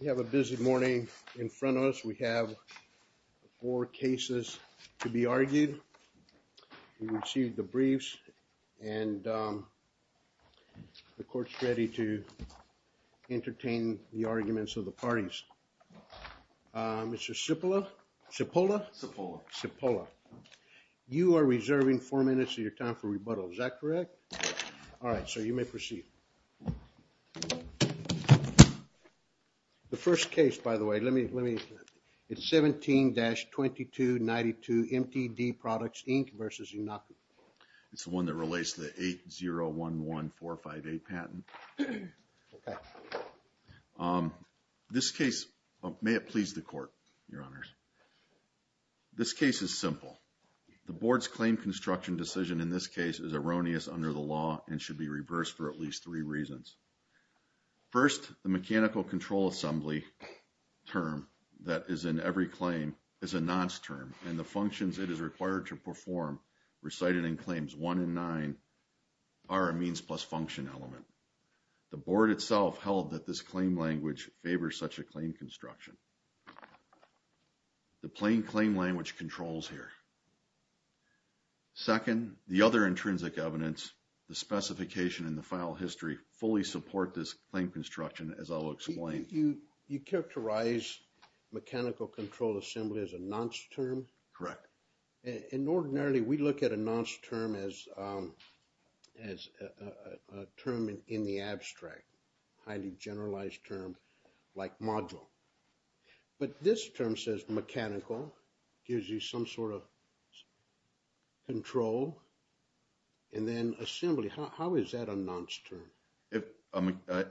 We have a busy morning in front of us. We have four cases to be argued. We received the briefs and the court's ready to entertain the arguments of the parties. Mr. Cipolla, you are reserving four minutes of your time for rebuttal. Is that correct? All right, sir. You may proceed. The first case, by the way, it's 17-2292 MTD Products Inc. v. Iancu. It's the one that relates to the 801145A patent. May it please the court, your honors. This case is simple. The board's claim construction decision in this case is erroneous under the at least three reasons. First, the mechanical control assembly term that is in every claim is a nonce term and the functions it is required to perform recited in Claims 1 and 9 are a means plus function element. The board itself held that this claim language favors such a claim construction. The plain claim language controls here. Second, the other intrinsic evidence, the specification and the file history fully support this claim construction as I'll explain. You characterize mechanical control assembly as a nonce term? Correct. And ordinarily, we look at a nonce term as a term in the abstract, highly generalized term like module. But this term says mechanical gives you some sort of control. And then assembly, how is that a nonce term?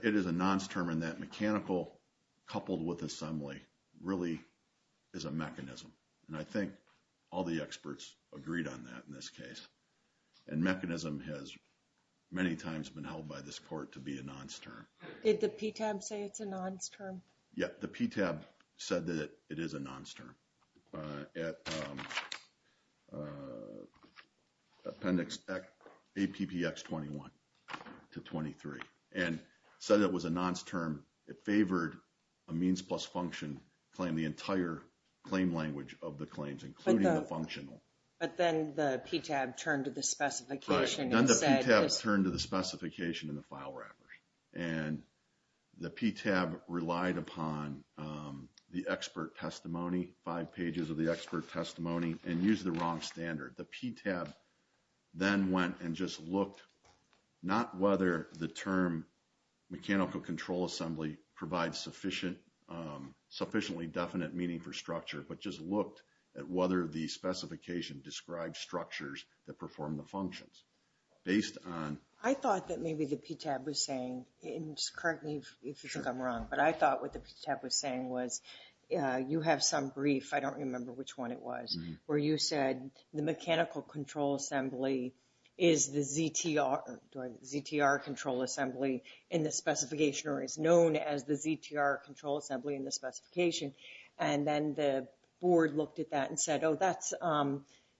It is a nonce term in that mechanical coupled with assembly really is a mechanism. And I think all the experts agreed on that in this case. And mechanism has many times been held by this court to be a nonce term. Did the PTAB say it's a nonce term? Yeah, the PTAB said that it is a nonce term at appendix APPX 21 to 23 and said it was a nonce term. It favored a means plus function claim, the entire claim language of the claims including the functional. But then the PTAB turned to the specification and the file wrappers. And the PTAB relied upon the expert testimony, five pages of the expert testimony and used the wrong standard. The PTAB then went and just looked not whether the term mechanical control assembly provides sufficiently definite meaning for structure, but just looked at whether the specification described structures that maybe the PTAB was saying. And just correct me if you think I'm wrong. But I thought what the PTAB was saying was you have some brief, I don't remember which one it was, where you said the mechanical control assembly is the ZTR control assembly in the specification or is known as the ZTR control assembly in the specification. And then the board looked at that and said, oh, that's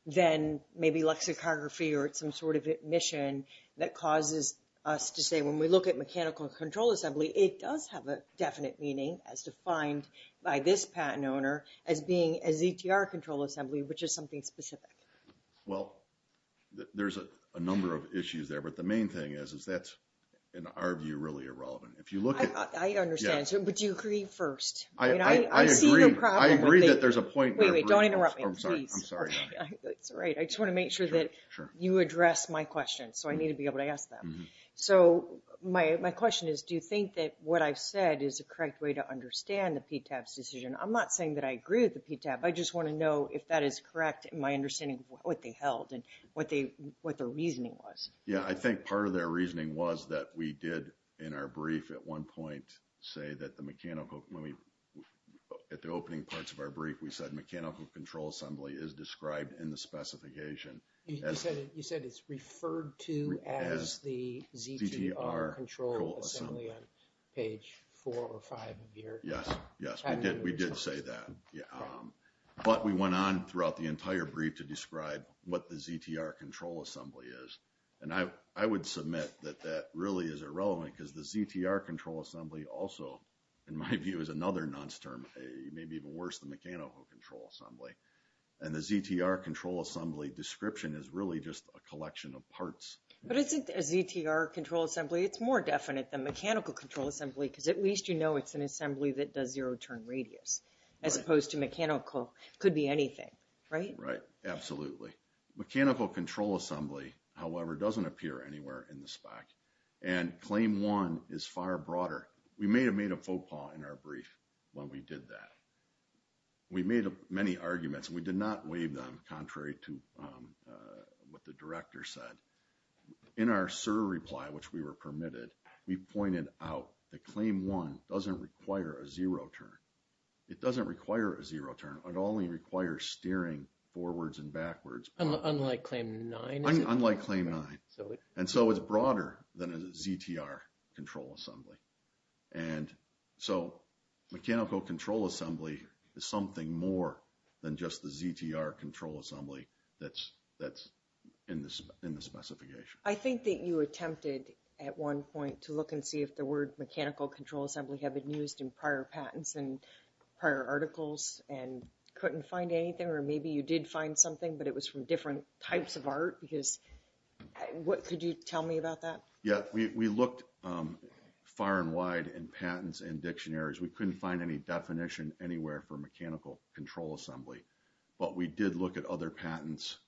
then maybe lexicography or some sort of admission that causes us to say when we look at mechanical control assembly, it does have a definite meaning as defined by this patent owner as being a ZTR control assembly, which is something specific. Well, there's a number of issues there. But the main thing is, is that's in our view really irrelevant. If you look at it. I understand, but you agree first. I see the problem. I agree that there's a point. Wait, wait, don't interrupt me. I'm sorry. That's right. I just want to make sure that you address my question. So I need to be able to ask them. So my question is, do you think that what I've said is a correct way to understand the PTAB's decision? I'm not saying that I agree with the PTAB. I just want to know if that is correct in my understanding of what they held and what the reasoning was. Yeah, I think part of their reasoning was that we did in our brief at one point say that the opening parts of our brief, we said mechanical control assembly is described in the specification. You said it's referred to as the ZTR control assembly on page four or five of your. Yes. Yes, we did. We did say that. But we went on throughout the entire brief to describe what the ZTR control assembly is. And I would submit that that really is irrelevant because the ZTR control assembly also, in my view, is another nonce term, maybe even worse than mechanical control assembly. And the ZTR control assembly description is really just a collection of parts. But isn't a ZTR control assembly, it's more definite than mechanical control assembly because at least you know it's an assembly that does zero turn radius as opposed to mechanical. Could be anything, right? Right, absolutely. Mechanical control assembly, however, doesn't appear anywhere in the spec. And claim one is far broader. We may have made a faux pas in our brief when we did that. We made many arguments. We did not waive them contrary to what the director said. In our SIR reply, which we were permitted, we pointed out that claim one doesn't require a zero turn. It doesn't require a zero turn. It only requires steering forwards and backwards. Unlike claim nine? Unlike claim nine. And so it's broader than a ZTR control assembly. And so mechanical control assembly is something more than just the ZTR control assembly that's in the specification. I think that you attempted at one point to look and see if the word mechanical control assembly had been used in prior patents and prior articles and couldn't find anything or maybe you did find something but it was from different types of art because what could you tell me about that? Yeah, we looked far and wide in patents and dictionaries. We couldn't find any definition anywhere for mechanical control assembly but we did look at other patents.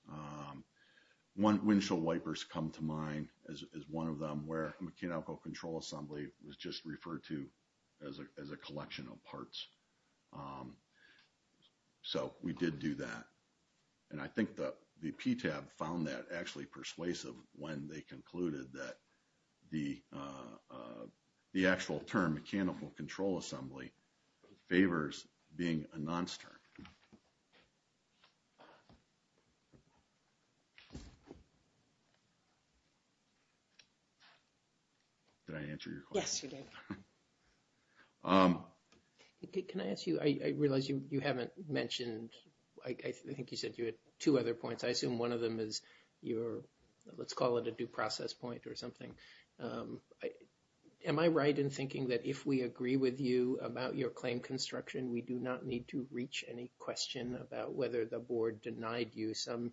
One windshield wipers come to mind as one of them where mechanical control assembly was just referred to as a collection of parts. So we did do that and I think that the PTAB found that actually persuasive when they concluded that the actual term mechanical control assembly favors being a non-stern. Did I answer your question? Yes, you did. Can I ask you, I realize you haven't mentioned, I think you said you had two other points. I assume one of them is your, let's call it a due process point or something. Am I right in thinking that if we agree with you about your claim construction, we do not need to reach any question about whether the board denied you some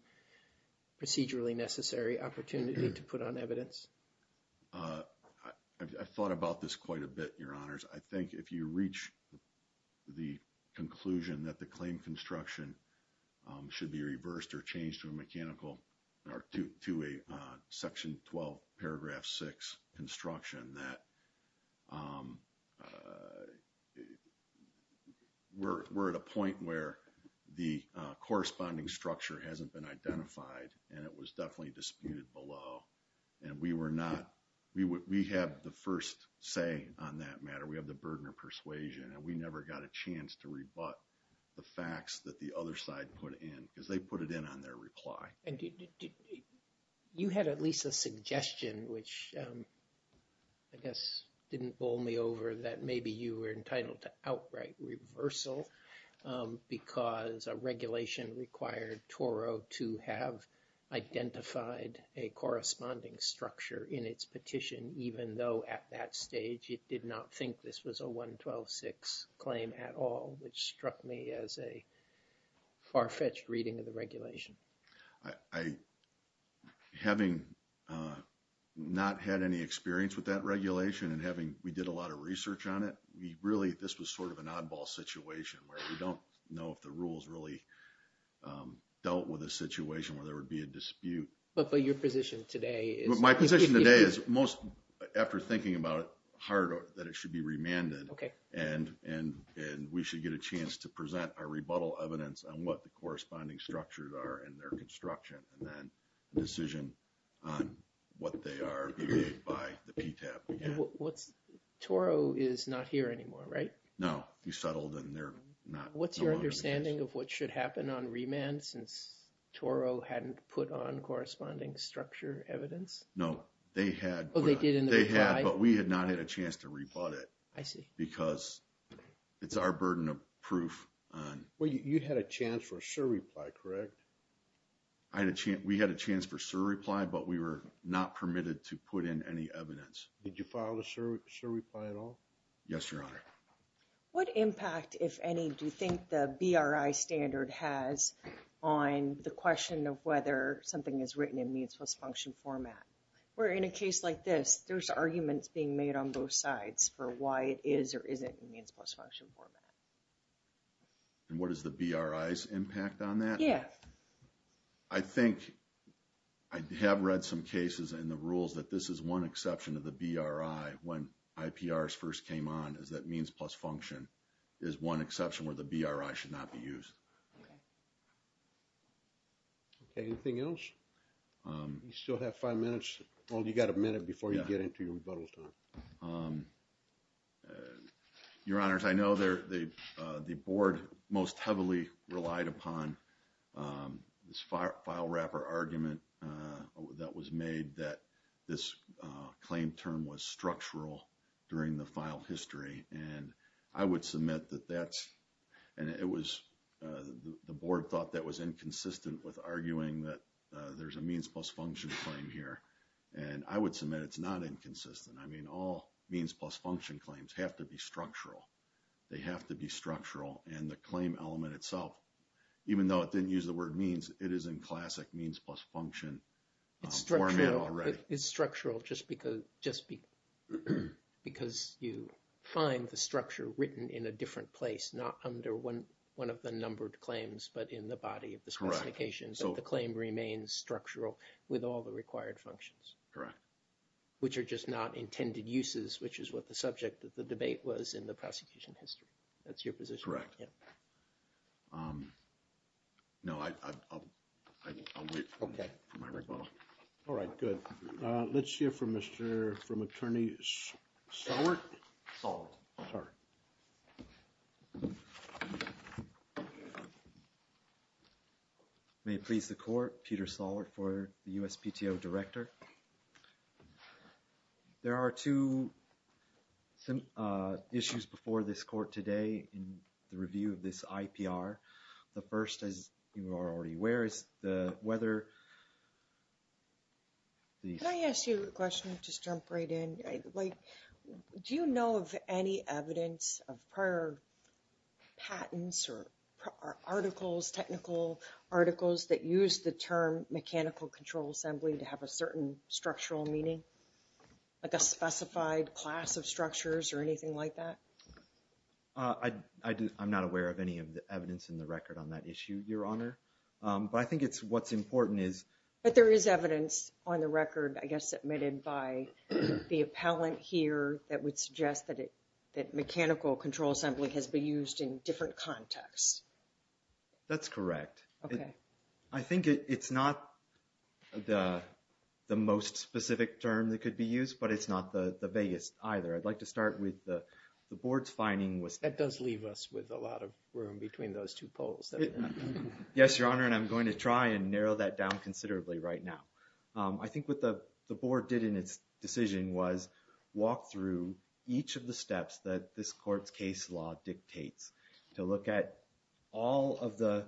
procedurally necessary opportunity to put on evidence? I thought about this quite a bit, your honors. I think if you reach the conclusion that the claim construction should be reversed or changed to a mechanical or to a section 12 paragraph 6 construction that we're at a point where the corresponding structure hasn't been identified and it was definitely disputed below and we were not, we have the first say on that matter. We have the burden of persuasion and we never got a chance to rebut the facts that the which I guess didn't bowl me over that maybe you were entitled to outright reversal because a regulation required Toro to have identified a corresponding structure in its petition even though at that stage it did not think this was a 112-6 claim at all, which struck me as a far-fetched reading of the regulation. Having not had any experience with that regulation and having we did a lot of research on it, we really this was sort of an oddball situation where we don't know if the rules really dealt with a situation where there would be a dispute. But your position today is... My position today is most after thinking about it hard that it should be remanded and we should get a chance to present our rebuttal evidence on what the corresponding structures are in their construction and then a decision on what they are being made by the PTAB. Toro is not here anymore, right? No, he settled and they're not. What's your understanding of what should happen on remand since Toro hadn't put on corresponding structure evidence? No, they had, but we had not had a chance to rebut it. I see. Because it's our burden of proof on... Well, you had a chance for a sure reply, correct? We had a chance for a sure reply, but we were not permitted to put in any evidence. Did you file a sure reply at all? Yes, your honor. What impact, if any, do you think the BRI standard has on the question of whether something is written in means-plus-function format? Where in a case like this, there's arguments being made on both sides for why it is or isn't in means-plus-function format. And what is the BRI's impact on that? Yeah. I think I have read some cases in the rules that this is one exception of the BRI when IPRs first came on is that means-plus-function is one exception where the BRI should not be used. Okay. Anything else? You still have five minutes. Well, you got a minute before you get into your rebuttal time. Your honors, I know the board most heavily relied upon this file wrapper argument that was made that this claim term was structural during the file history. And I would submit that and it was the board thought that was inconsistent with arguing that there's a means-plus-function claim here. And I would submit it's not inconsistent. I mean, all means-plus-function claims have to be structural. They have to be structural and the claim element itself, even though it didn't use the word means, it is in classic means-plus-function format already. It's structural just because you find the structure written in a different place, not under one of the numbered claims, but in the body of the specifications. So the claim remains structural with all the required functions, which are just not intended uses, which is what the subject of the debate was in the prosecution history. That's your position. Correct. No, I'll wait for my rebuttal. Okay. All right, good. Let's hear from Mr. from Attorney Salwart. May it please the court, Peter Salwart for the USPTO Director. Thank you, Mr. Chair. There are two issues before this court today in the review of this IPR. The first, as you are already aware, is the weather. Can I ask you a question? Just jump right in. Do you know of any evidence of prior patents or articles, technical articles that use the term mechanical control assembly to have a certain structural meaning, like a specified class of structures or anything like that? I'm not aware of any of the evidence in the record on that issue, Your Honor. But I think what's important is... But there is evidence on the record, I guess, submitted by the appellant here that would suggest that mechanical control assembly has been used in different contexts. That's correct. Okay. I think it's not the most specific term that could be used, but it's not the vaguest either. I'd like to start with the board's finding was... That does leave us with a lot of room between those two polls. Yes, Your Honor, and I'm going to try and narrow that down considerably right now. I think what the board did in its decision was walk through each of the steps that this dictates to look at all of the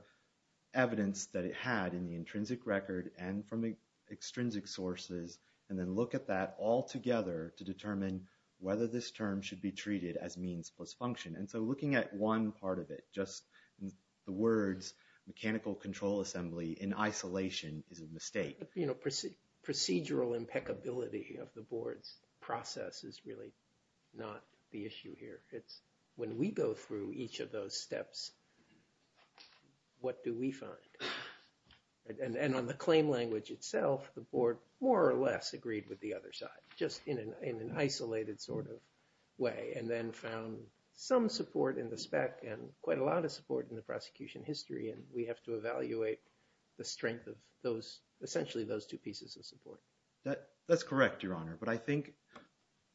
evidence that it had in the intrinsic record and from extrinsic sources, and then look at that all together to determine whether this term should be treated as means plus function. And so looking at one part of it, just the words mechanical control assembly in isolation is a mistake. Procedural impeccability of the board's process is really not the issue here. It's when we go through each of those steps, what do we find? And on the claim language itself, the board more or less agreed with the other side just in an isolated sort of way, and then found some support in the spec and quite a lot of support in the prosecution history, and we have to evaluate the strength of essentially those two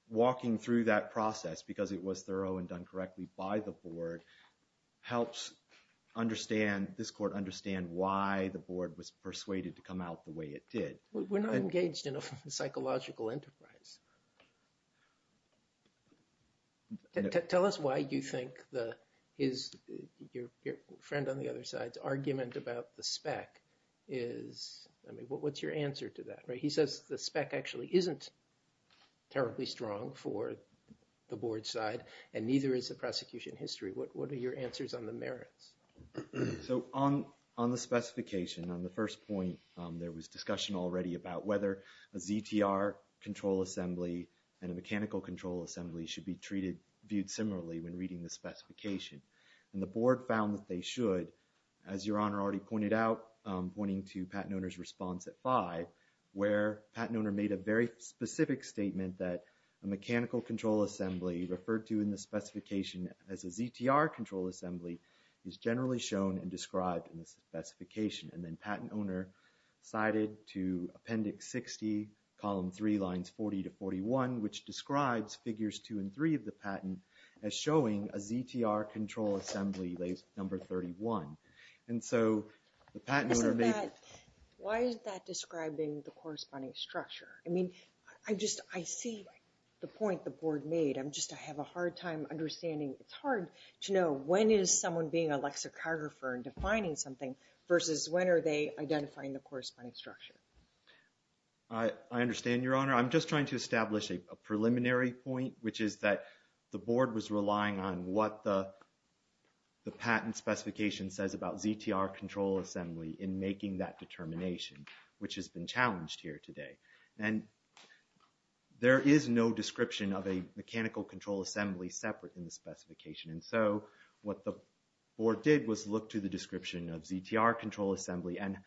walking through that process because it was thorough and done correctly by the board, helps understand, this court understand why the board was persuaded to come out the way it did. We're not engaged in a psychological enterprise. Tell us why you think that is your friend on the other side's argument about the spec is, I mean, what's your answer to that? He says the spec actually isn't terribly strong for the board side and neither is the prosecution history. What are your answers on the merits? So on the specification, on the first point, there was discussion already about whether a ZTR control assembly and a mechanical control assembly should be treated, viewed similarly when reading the specification. And the board found that they should, as your honor already pointed out, pointing to Patent Owner's response at 5, where Patent Owner made a very specific statement that a mechanical control assembly referred to in the specification as a ZTR control assembly is generally shown and described in the specification, and then Patent Owner cited to Appendix 60, Column 3, Lines 40 to 41, which describes Figures 2 and 3 of the patent as showing a ZTR control assembly, Lays number 31. And so the Patent Owner made... Why is that describing the corresponding structure? I mean, I just, I see the point the board made. I'm just, I have a hard time understanding. It's hard to know when is someone being a lexicographer and defining something versus when are they identifying the corresponding structure? I understand, your honor. I'm just trying to establish a preliminary point, which is that the board was relying on what the patent specification says about ZTR control assembly in making that determination, which has been challenged here today. And there is no description of a mechanical control assembly separate in the specification. And so what the board did was look to the description of ZTR control assembly and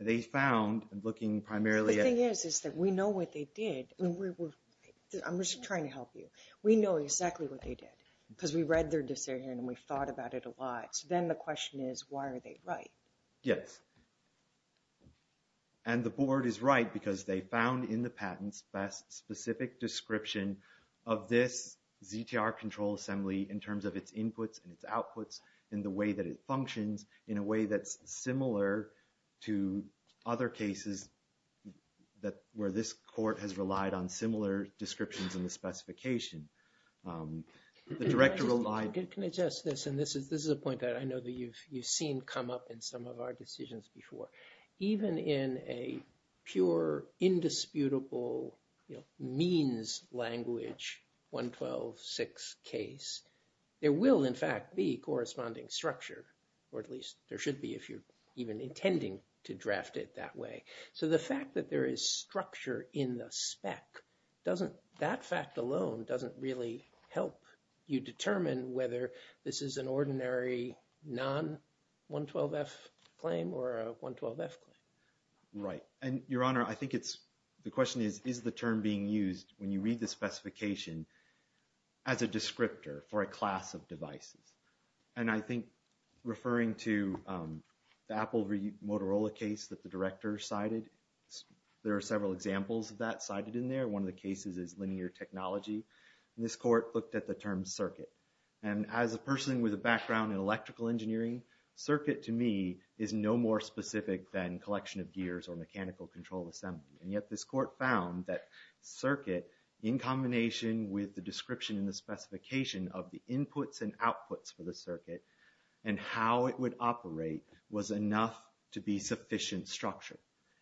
they found, looking primarily at... We know what they did. I'm just trying to help you. We know exactly what they did, because we read their decision and we thought about it a lot. So then the question is, why are they right? Yes. And the board is right because they found in the patents best specific description of this ZTR control assembly in terms of its inputs and its outputs, in the way that it functions, in a way that's similar to other cases where this court has relied on similar descriptions in the specification. The director relied... Can I just, can I just, and this is a point that I know that you've seen come up in some of our decisions before. Even in a pure indisputable means language 112-6 case, there will in fact be corresponding structure, or at least there should be if you're even intending to draft it that way. So the fact that there is structure in the spec, that fact alone doesn't really help you determine whether this is an ordinary non-112-F claim or a 112-F claim. Right. And Your Honor, I think it's... Is the term being used when you read the specification as a descriptor for a class of devices. And I think referring to the Apple Motorola case that the director cited, there are several examples of that cited in there. One of the cases is linear technology. And this court looked at the term circuit. And as a person with a background in electrical engineering, circuit to me is no more specific than collection of gears or mechanical control assembly. And yet this court found that circuit in combination with the description and the specification of the inputs and outputs for the circuit and how it would operate was enough to be sufficient structure.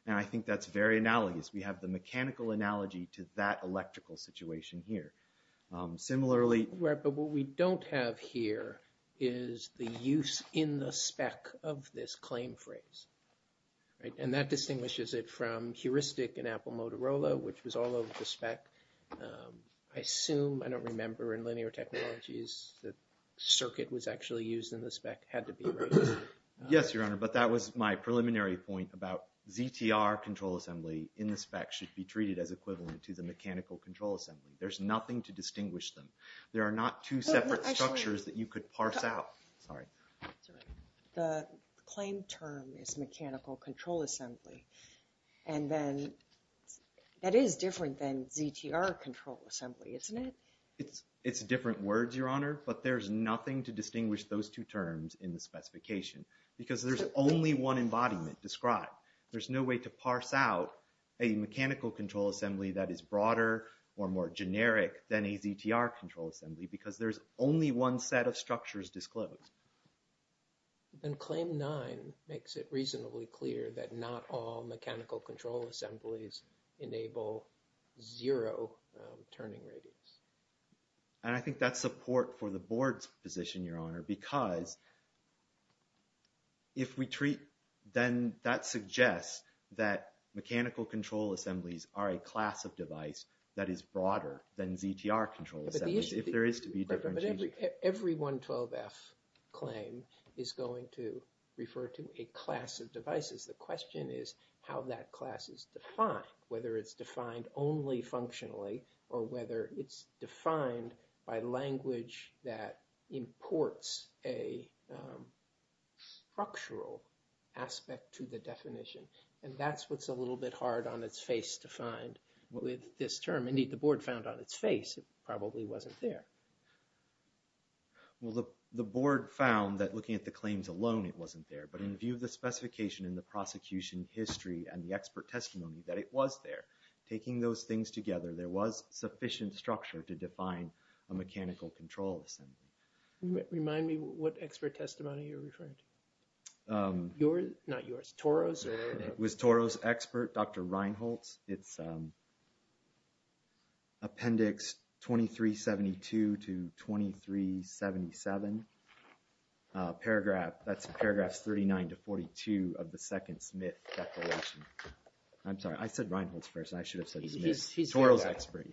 And I think that's very analogous. We have the mechanical analogy to that electrical situation here. Similarly... Right. But what we don't have here is the use in the spec of this claim phrase. Right. And that distinguishes it from heuristic in Apple Motorola, which was all over the spec. I assume, I don't remember in linear technologies, the circuit was actually used in the spec. Had to be, right? Yes, Your Honor. But that was my preliminary point about ZTR control assembly in the spec should be treated as equivalent to the mechanical control assembly. There's nothing to distinguish them. There are not two separate structures that you could parse out. Sorry. The claim term is mechanical control assembly. And then that is different than ZTR control assembly, isn't it? It's different words, Your Honor. But there's nothing to distinguish those two terms in the specification because there's only one embodiment described. There's no way to parse out a mechanical control assembly that is broader or more generic than a ZTR control assembly because there's only one set of structures disclosed. And claim nine makes it reasonably clear that not all mechanical control assemblies enable zero turning radius. And I think that's support for the board's position, Your Honor, because if we treat, then that suggests that mechanical control assemblies are a class of device that is broader than ZTR control assemblies, if there is to be different. Every 112F claim is going to refer to a class of devices. The question is how that class is defined, whether it's defined only functionally or whether it's defined by language that imports a structural aspect to the definition. And that's what's a little bit hard on its face to find with this term. Indeed, the board found on its face it probably wasn't there. Well, the board found that looking at the claims alone, it wasn't there. But in view of the specification in the prosecution history and the expert testimony that it was there, taking those things together, there was sufficient structure to define a mechanical control assembly. Remind me what expert testimony you're referring to. Yours? Not yours. Toro's? It was Toro's expert, Dr. Reinholtz. It's appendix 2372 to 2377. Paragraph, that's paragraphs 39 to 42 of the second Smith declaration. I'm sorry, I said Reinholtz first. I should have said Smith. Toro's expert.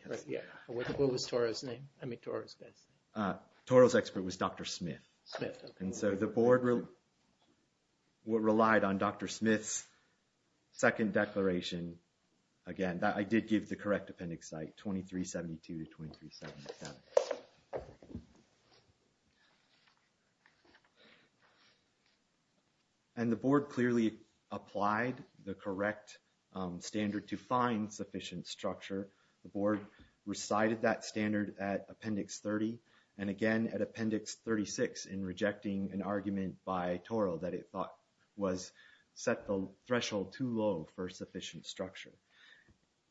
What was Toro's name? Toro's expert was Dr. Smith. And so the board relied on Dr. Smith's second declaration. Again, I did give the correct appendix site, 2372 to 2377. And the board clearly applied the correct standard to find sufficient structure. The board recited that standard at appendix 30. And again, at appendix 36 in rejecting an argument by Toro that it thought was set the threshold too low for sufficient structure.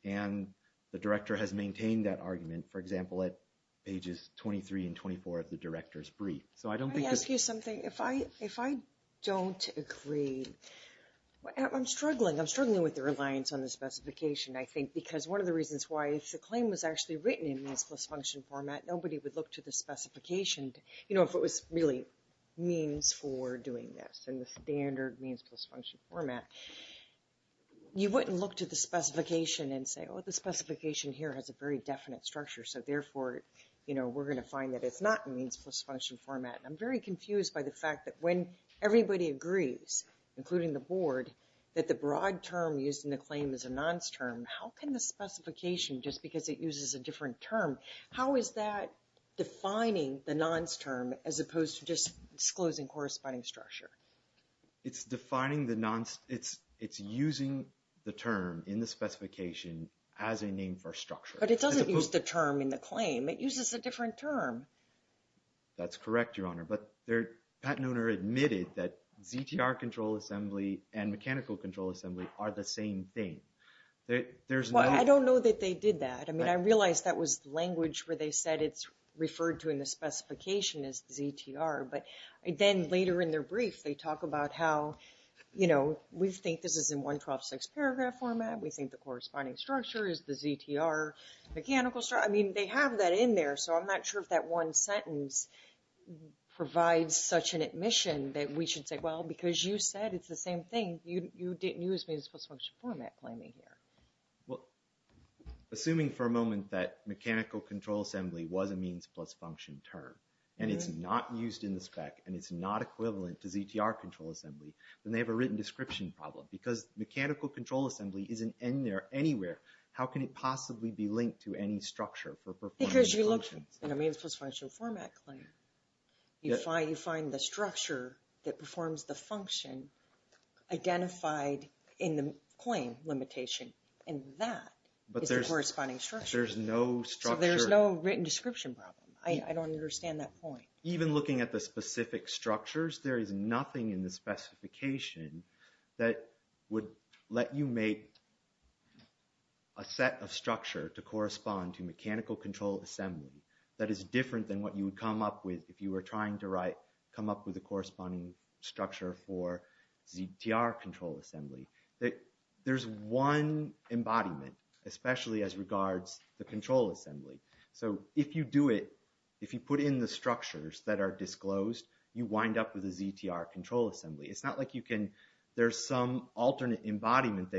And the director has maintained that argument, for example, at pages 23 and 24 of the director's brief. So I don't think- Let me ask you something. If I don't agree, I'm struggling. I'm struggling with the reliance on the specification, I think, because one of the reasons why, if the claim was actually written in means plus function format, nobody would look to the specification. If it was really means for doing this in the standard means plus function format, you wouldn't look to the specification and say, oh, the specification here has a very definite structure. So therefore, we're going to find that it's not in means plus function format. I'm very confused by the fact that when everybody agrees, including the board, that the broad term used in the claim is a nonce term, how can the specification, just because it uses a different term, how is that defining the nonce term as opposed to just disclosing corresponding structure? It's defining the nonce. It's using the term in the specification as a name for structure. But it doesn't use the term in the claim. It uses a different term. That's correct, Your Honor. But the patent owner admitted that are the same thing. Well, I don't know that they did that. I mean, I realized that was language where they said it's referred to in the specification as ZTR. But then later in their brief, they talk about how, you know, we think this is in 112-6 paragraph format. We think the corresponding structure is the ZTR mechanical structure. I mean, they have that in there. So I'm not sure if that one sentence provides such an admission that we should say, well, because you said it's the same thing. You didn't use means plus function format claiming here. Well, assuming for a moment that mechanical control assembly was a means plus function term, and it's not used in the spec, and it's not equivalent to ZTR control assembly, then they have a written description problem. Because mechanical control assembly isn't in there anywhere, how can it possibly be linked to any structure for performance functions? Because you looked in a means plus function format claim. You find the structure that identified in the claim limitation, and that is the corresponding structure. There's no structure. There's no written description problem. I don't understand that point. Even looking at the specific structures, there is nothing in the specification that would let you make a set of structure to correspond to mechanical control assembly that is different than what you would come up with if you were trying to write, come up with a corresponding structure for ZTR control assembly. There's one embodiment, especially as regards the control assembly. So if you do it, if you put in the structures that are disclosed, you wind up with a ZTR control assembly. It's not like you can, there's some alternate embodiment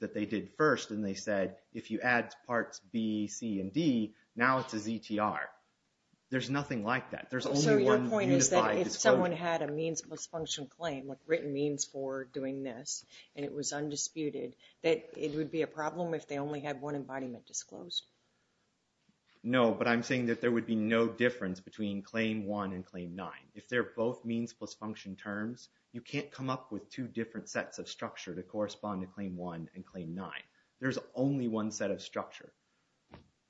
that they did first, and they said, if you add parts B, C, and D, now it's a ZTR. There's nothing like that. There's only one unified description. If someone had a means plus function claim, like written means for doing this, and it was undisputed, that it would be a problem if they only had one embodiment disclosed? No, but I'm saying that there would be no difference between claim one and claim nine. If they're both means plus function terms, you can't come up with two different sets of structure to correspond to claim one and claim nine. There's only one set of structure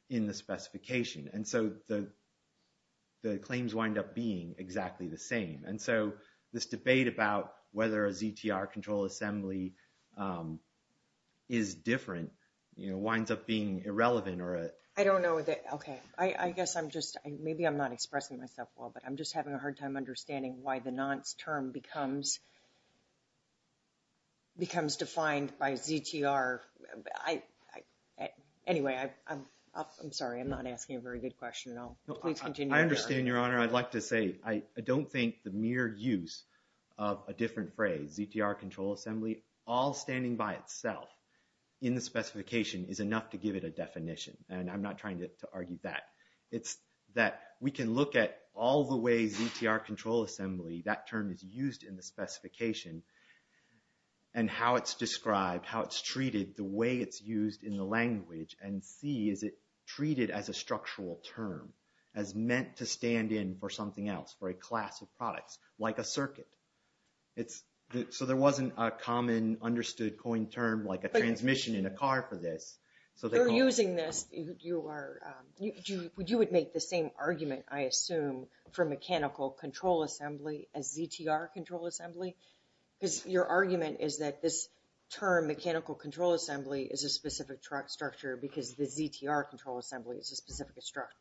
in the specification. And so the claims wind up being exactly the same. And so this debate about whether a ZTR control assembly is different winds up being irrelevant or a- I don't know that, okay. I guess I'm just, maybe I'm not expressing myself well, but I'm just having a hard time understanding why the nonce term becomes defined by ZTR. I, anyway, I'm sorry, I'm not asking a very good question at all. Please continue. I understand, Your Honor. I'd like to say, I don't think the mere use of a different phrase, ZTR control assembly, all standing by itself in the specification is enough to give it a definition. And I'm not trying to argue that. It's that we can look at all the ways ZTR control assembly, that term is used in the specification, and how it's described, how it's treated, the way it's used in the language, and see is it treated as a structural term, as meant to stand in for something else, for a class of products, like a circuit. It's, so there wasn't a common understood coined term, like a transmission in a car for this. So they're using this, you are, you would make the same argument, I assume, for mechanical control assembly as ZTR control assembly. Because your argument is that this term, mechanical control assembly, is a specific structure because the ZTR control assembly is a specific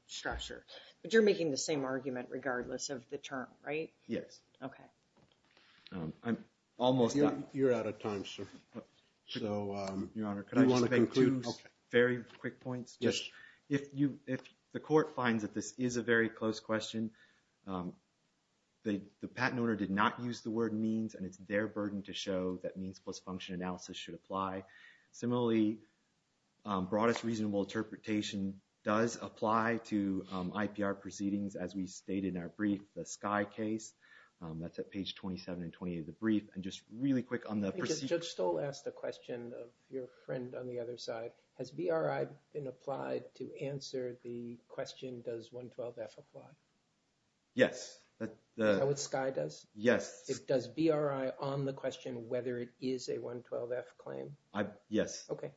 structure. But you're making the same argument regardless of the term, right? Yes. Okay. I'm almost done. You're out of time, sir. So, Your Honor, can I just make two very quick points? Yes. If you, if the court finds that this is a very close question, the patent owner did not use the word means, and it's their burden to show that means plus function analysis should apply. Similarly, broadest reasonable interpretation does apply to IPR proceedings, as we stated in our brief, the Sky case. That's at page 27 and 28 of the brief. And just really quick on the procedure. Judge Stoll asked a question of your friend on the other side. Has BRI been applied to answer the question, does 112F apply? Yes. Is that what Sky does? Yes. It does BRI on the question whether it is a 112F claim? Yes. Okay.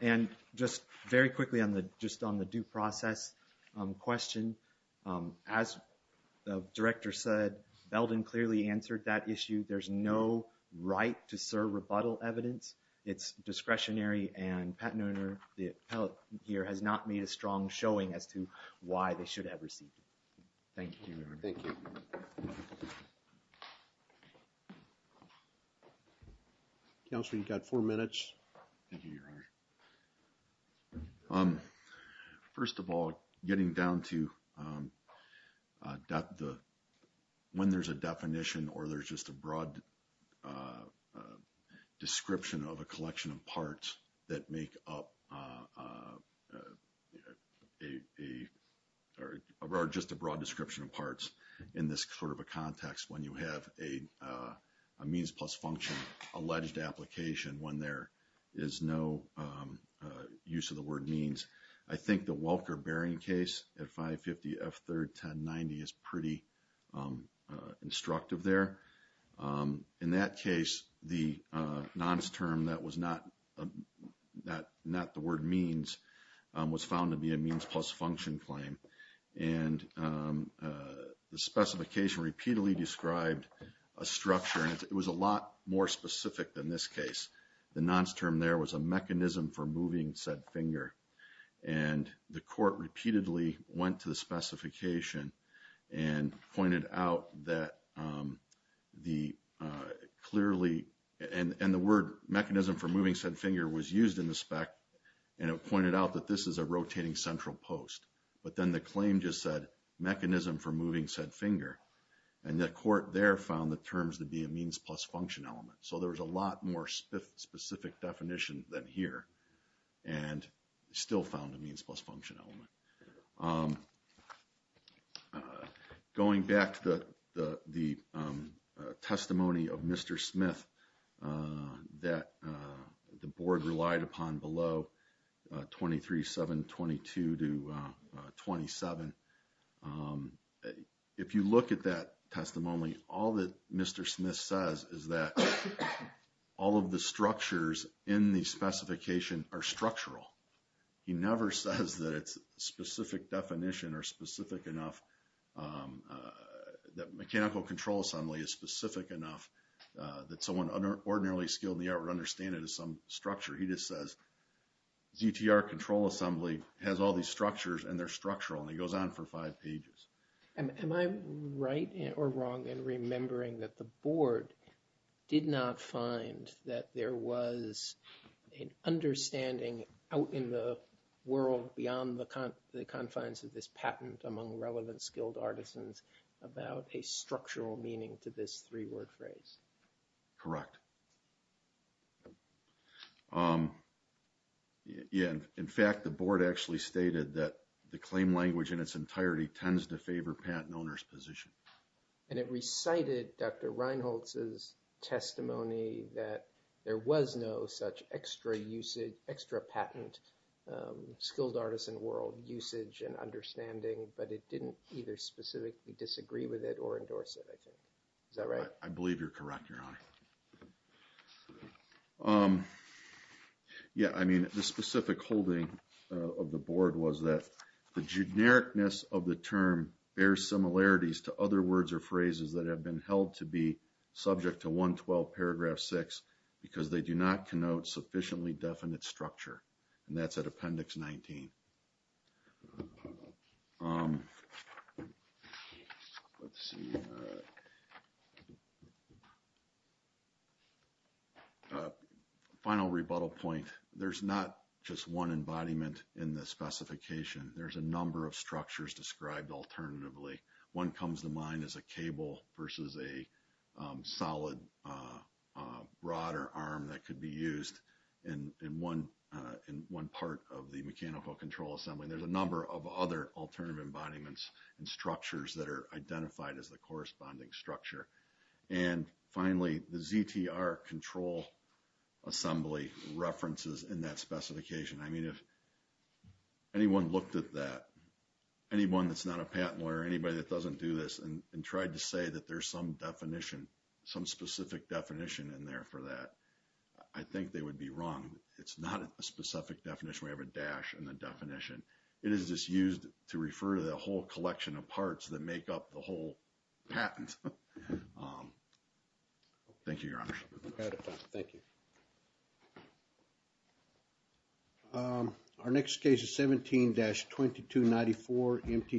And just very quickly on the due process question. As the director said, Belden clearly answered that issue. There's no right to serve rebuttal evidence. It's discretionary and patent owner, the appellate here has not made a strong showing as to why they should have received it. Thank you. Counselor, you've got four minutes. First of all, getting down to when there's a definition or there's just a broad a description of a collection of parts that make up a, or just a broad description of parts in this sort of a context when you have a means plus function, alleged application when there is no use of the word means. I think the Welker bearing case at 550F31090 is pretty instructive there. In that case, the nonce term that was not the word means was found to be a means plus function claim and the specification repeatedly described a structure and it was a lot more specific than this case. The nonce term there was a mechanism for moving said finger and the court repeatedly went to the specification and pointed out that the clearly, and the word mechanism for moving said finger was used in the spec and it pointed out that this is a rotating central post. But then the claim just said mechanism for moving said finger and the court there found the terms to be a means plus function element. So there was a lot more specific definition than here and still found a means plus function element. Going back to the testimony of Mr. Smith that the board relied upon below 23-722-27. If you look at that testimony, all that Mr. Smith says is that all of the structures in the specification are structural. He never says that it's specific definition or specific enough that mechanical control assembly is specific enough that someone ordinarily skilled in the art would understand it as some structure. He just says GTR control assembly has all these structures and they're structural and he goes on for five pages. Am I right or wrong in remembering that the board did not find that there was an understanding out in the world beyond the confines of this patent among relevant skilled artisans about a structural meaning to this three-word phrase? Correct. Yeah, in fact, the board actually stated that the claim language in its entirety tends to favor patent owner's position. And it recited Dr. Reinholtz's testimony that there was no such extra usage, extra patent skilled artisan world usage and understanding, but it didn't either specifically disagree with it or endorse it, I think. Is that right? I believe you're correct, Your Honor. Yeah, I mean, the specific holding of the board was that the genericness of the term bears similarities to other words or phrases that have been held to be subject to 112 paragraph six, because they do not connote sufficiently definite structure. And that's at appendix 19. Final rebuttal point. There's not just one embodiment in the specification. There's a number of structures described alternatively. One comes to mind as a cable versus a solid rod or arm that could be used in one part of the mechanical control assembly. There's a number of other alternative embodiments and structures that are identified as the corresponding structure. And finally, the ZTR control assembly references in that specification. I mean, if anyone looked at that, anyone that's not a patent lawyer, anybody that doesn't do this and tried to say that there's some definition, some specific definition in there for that, I think they would be wrong. It's not a specific definition. We have a dash and the definition. It is just used to refer to the whole collection of parts that make up the whole patent. Thank you, your honor. Thank you. Our next case is 17 dash 2294 MT.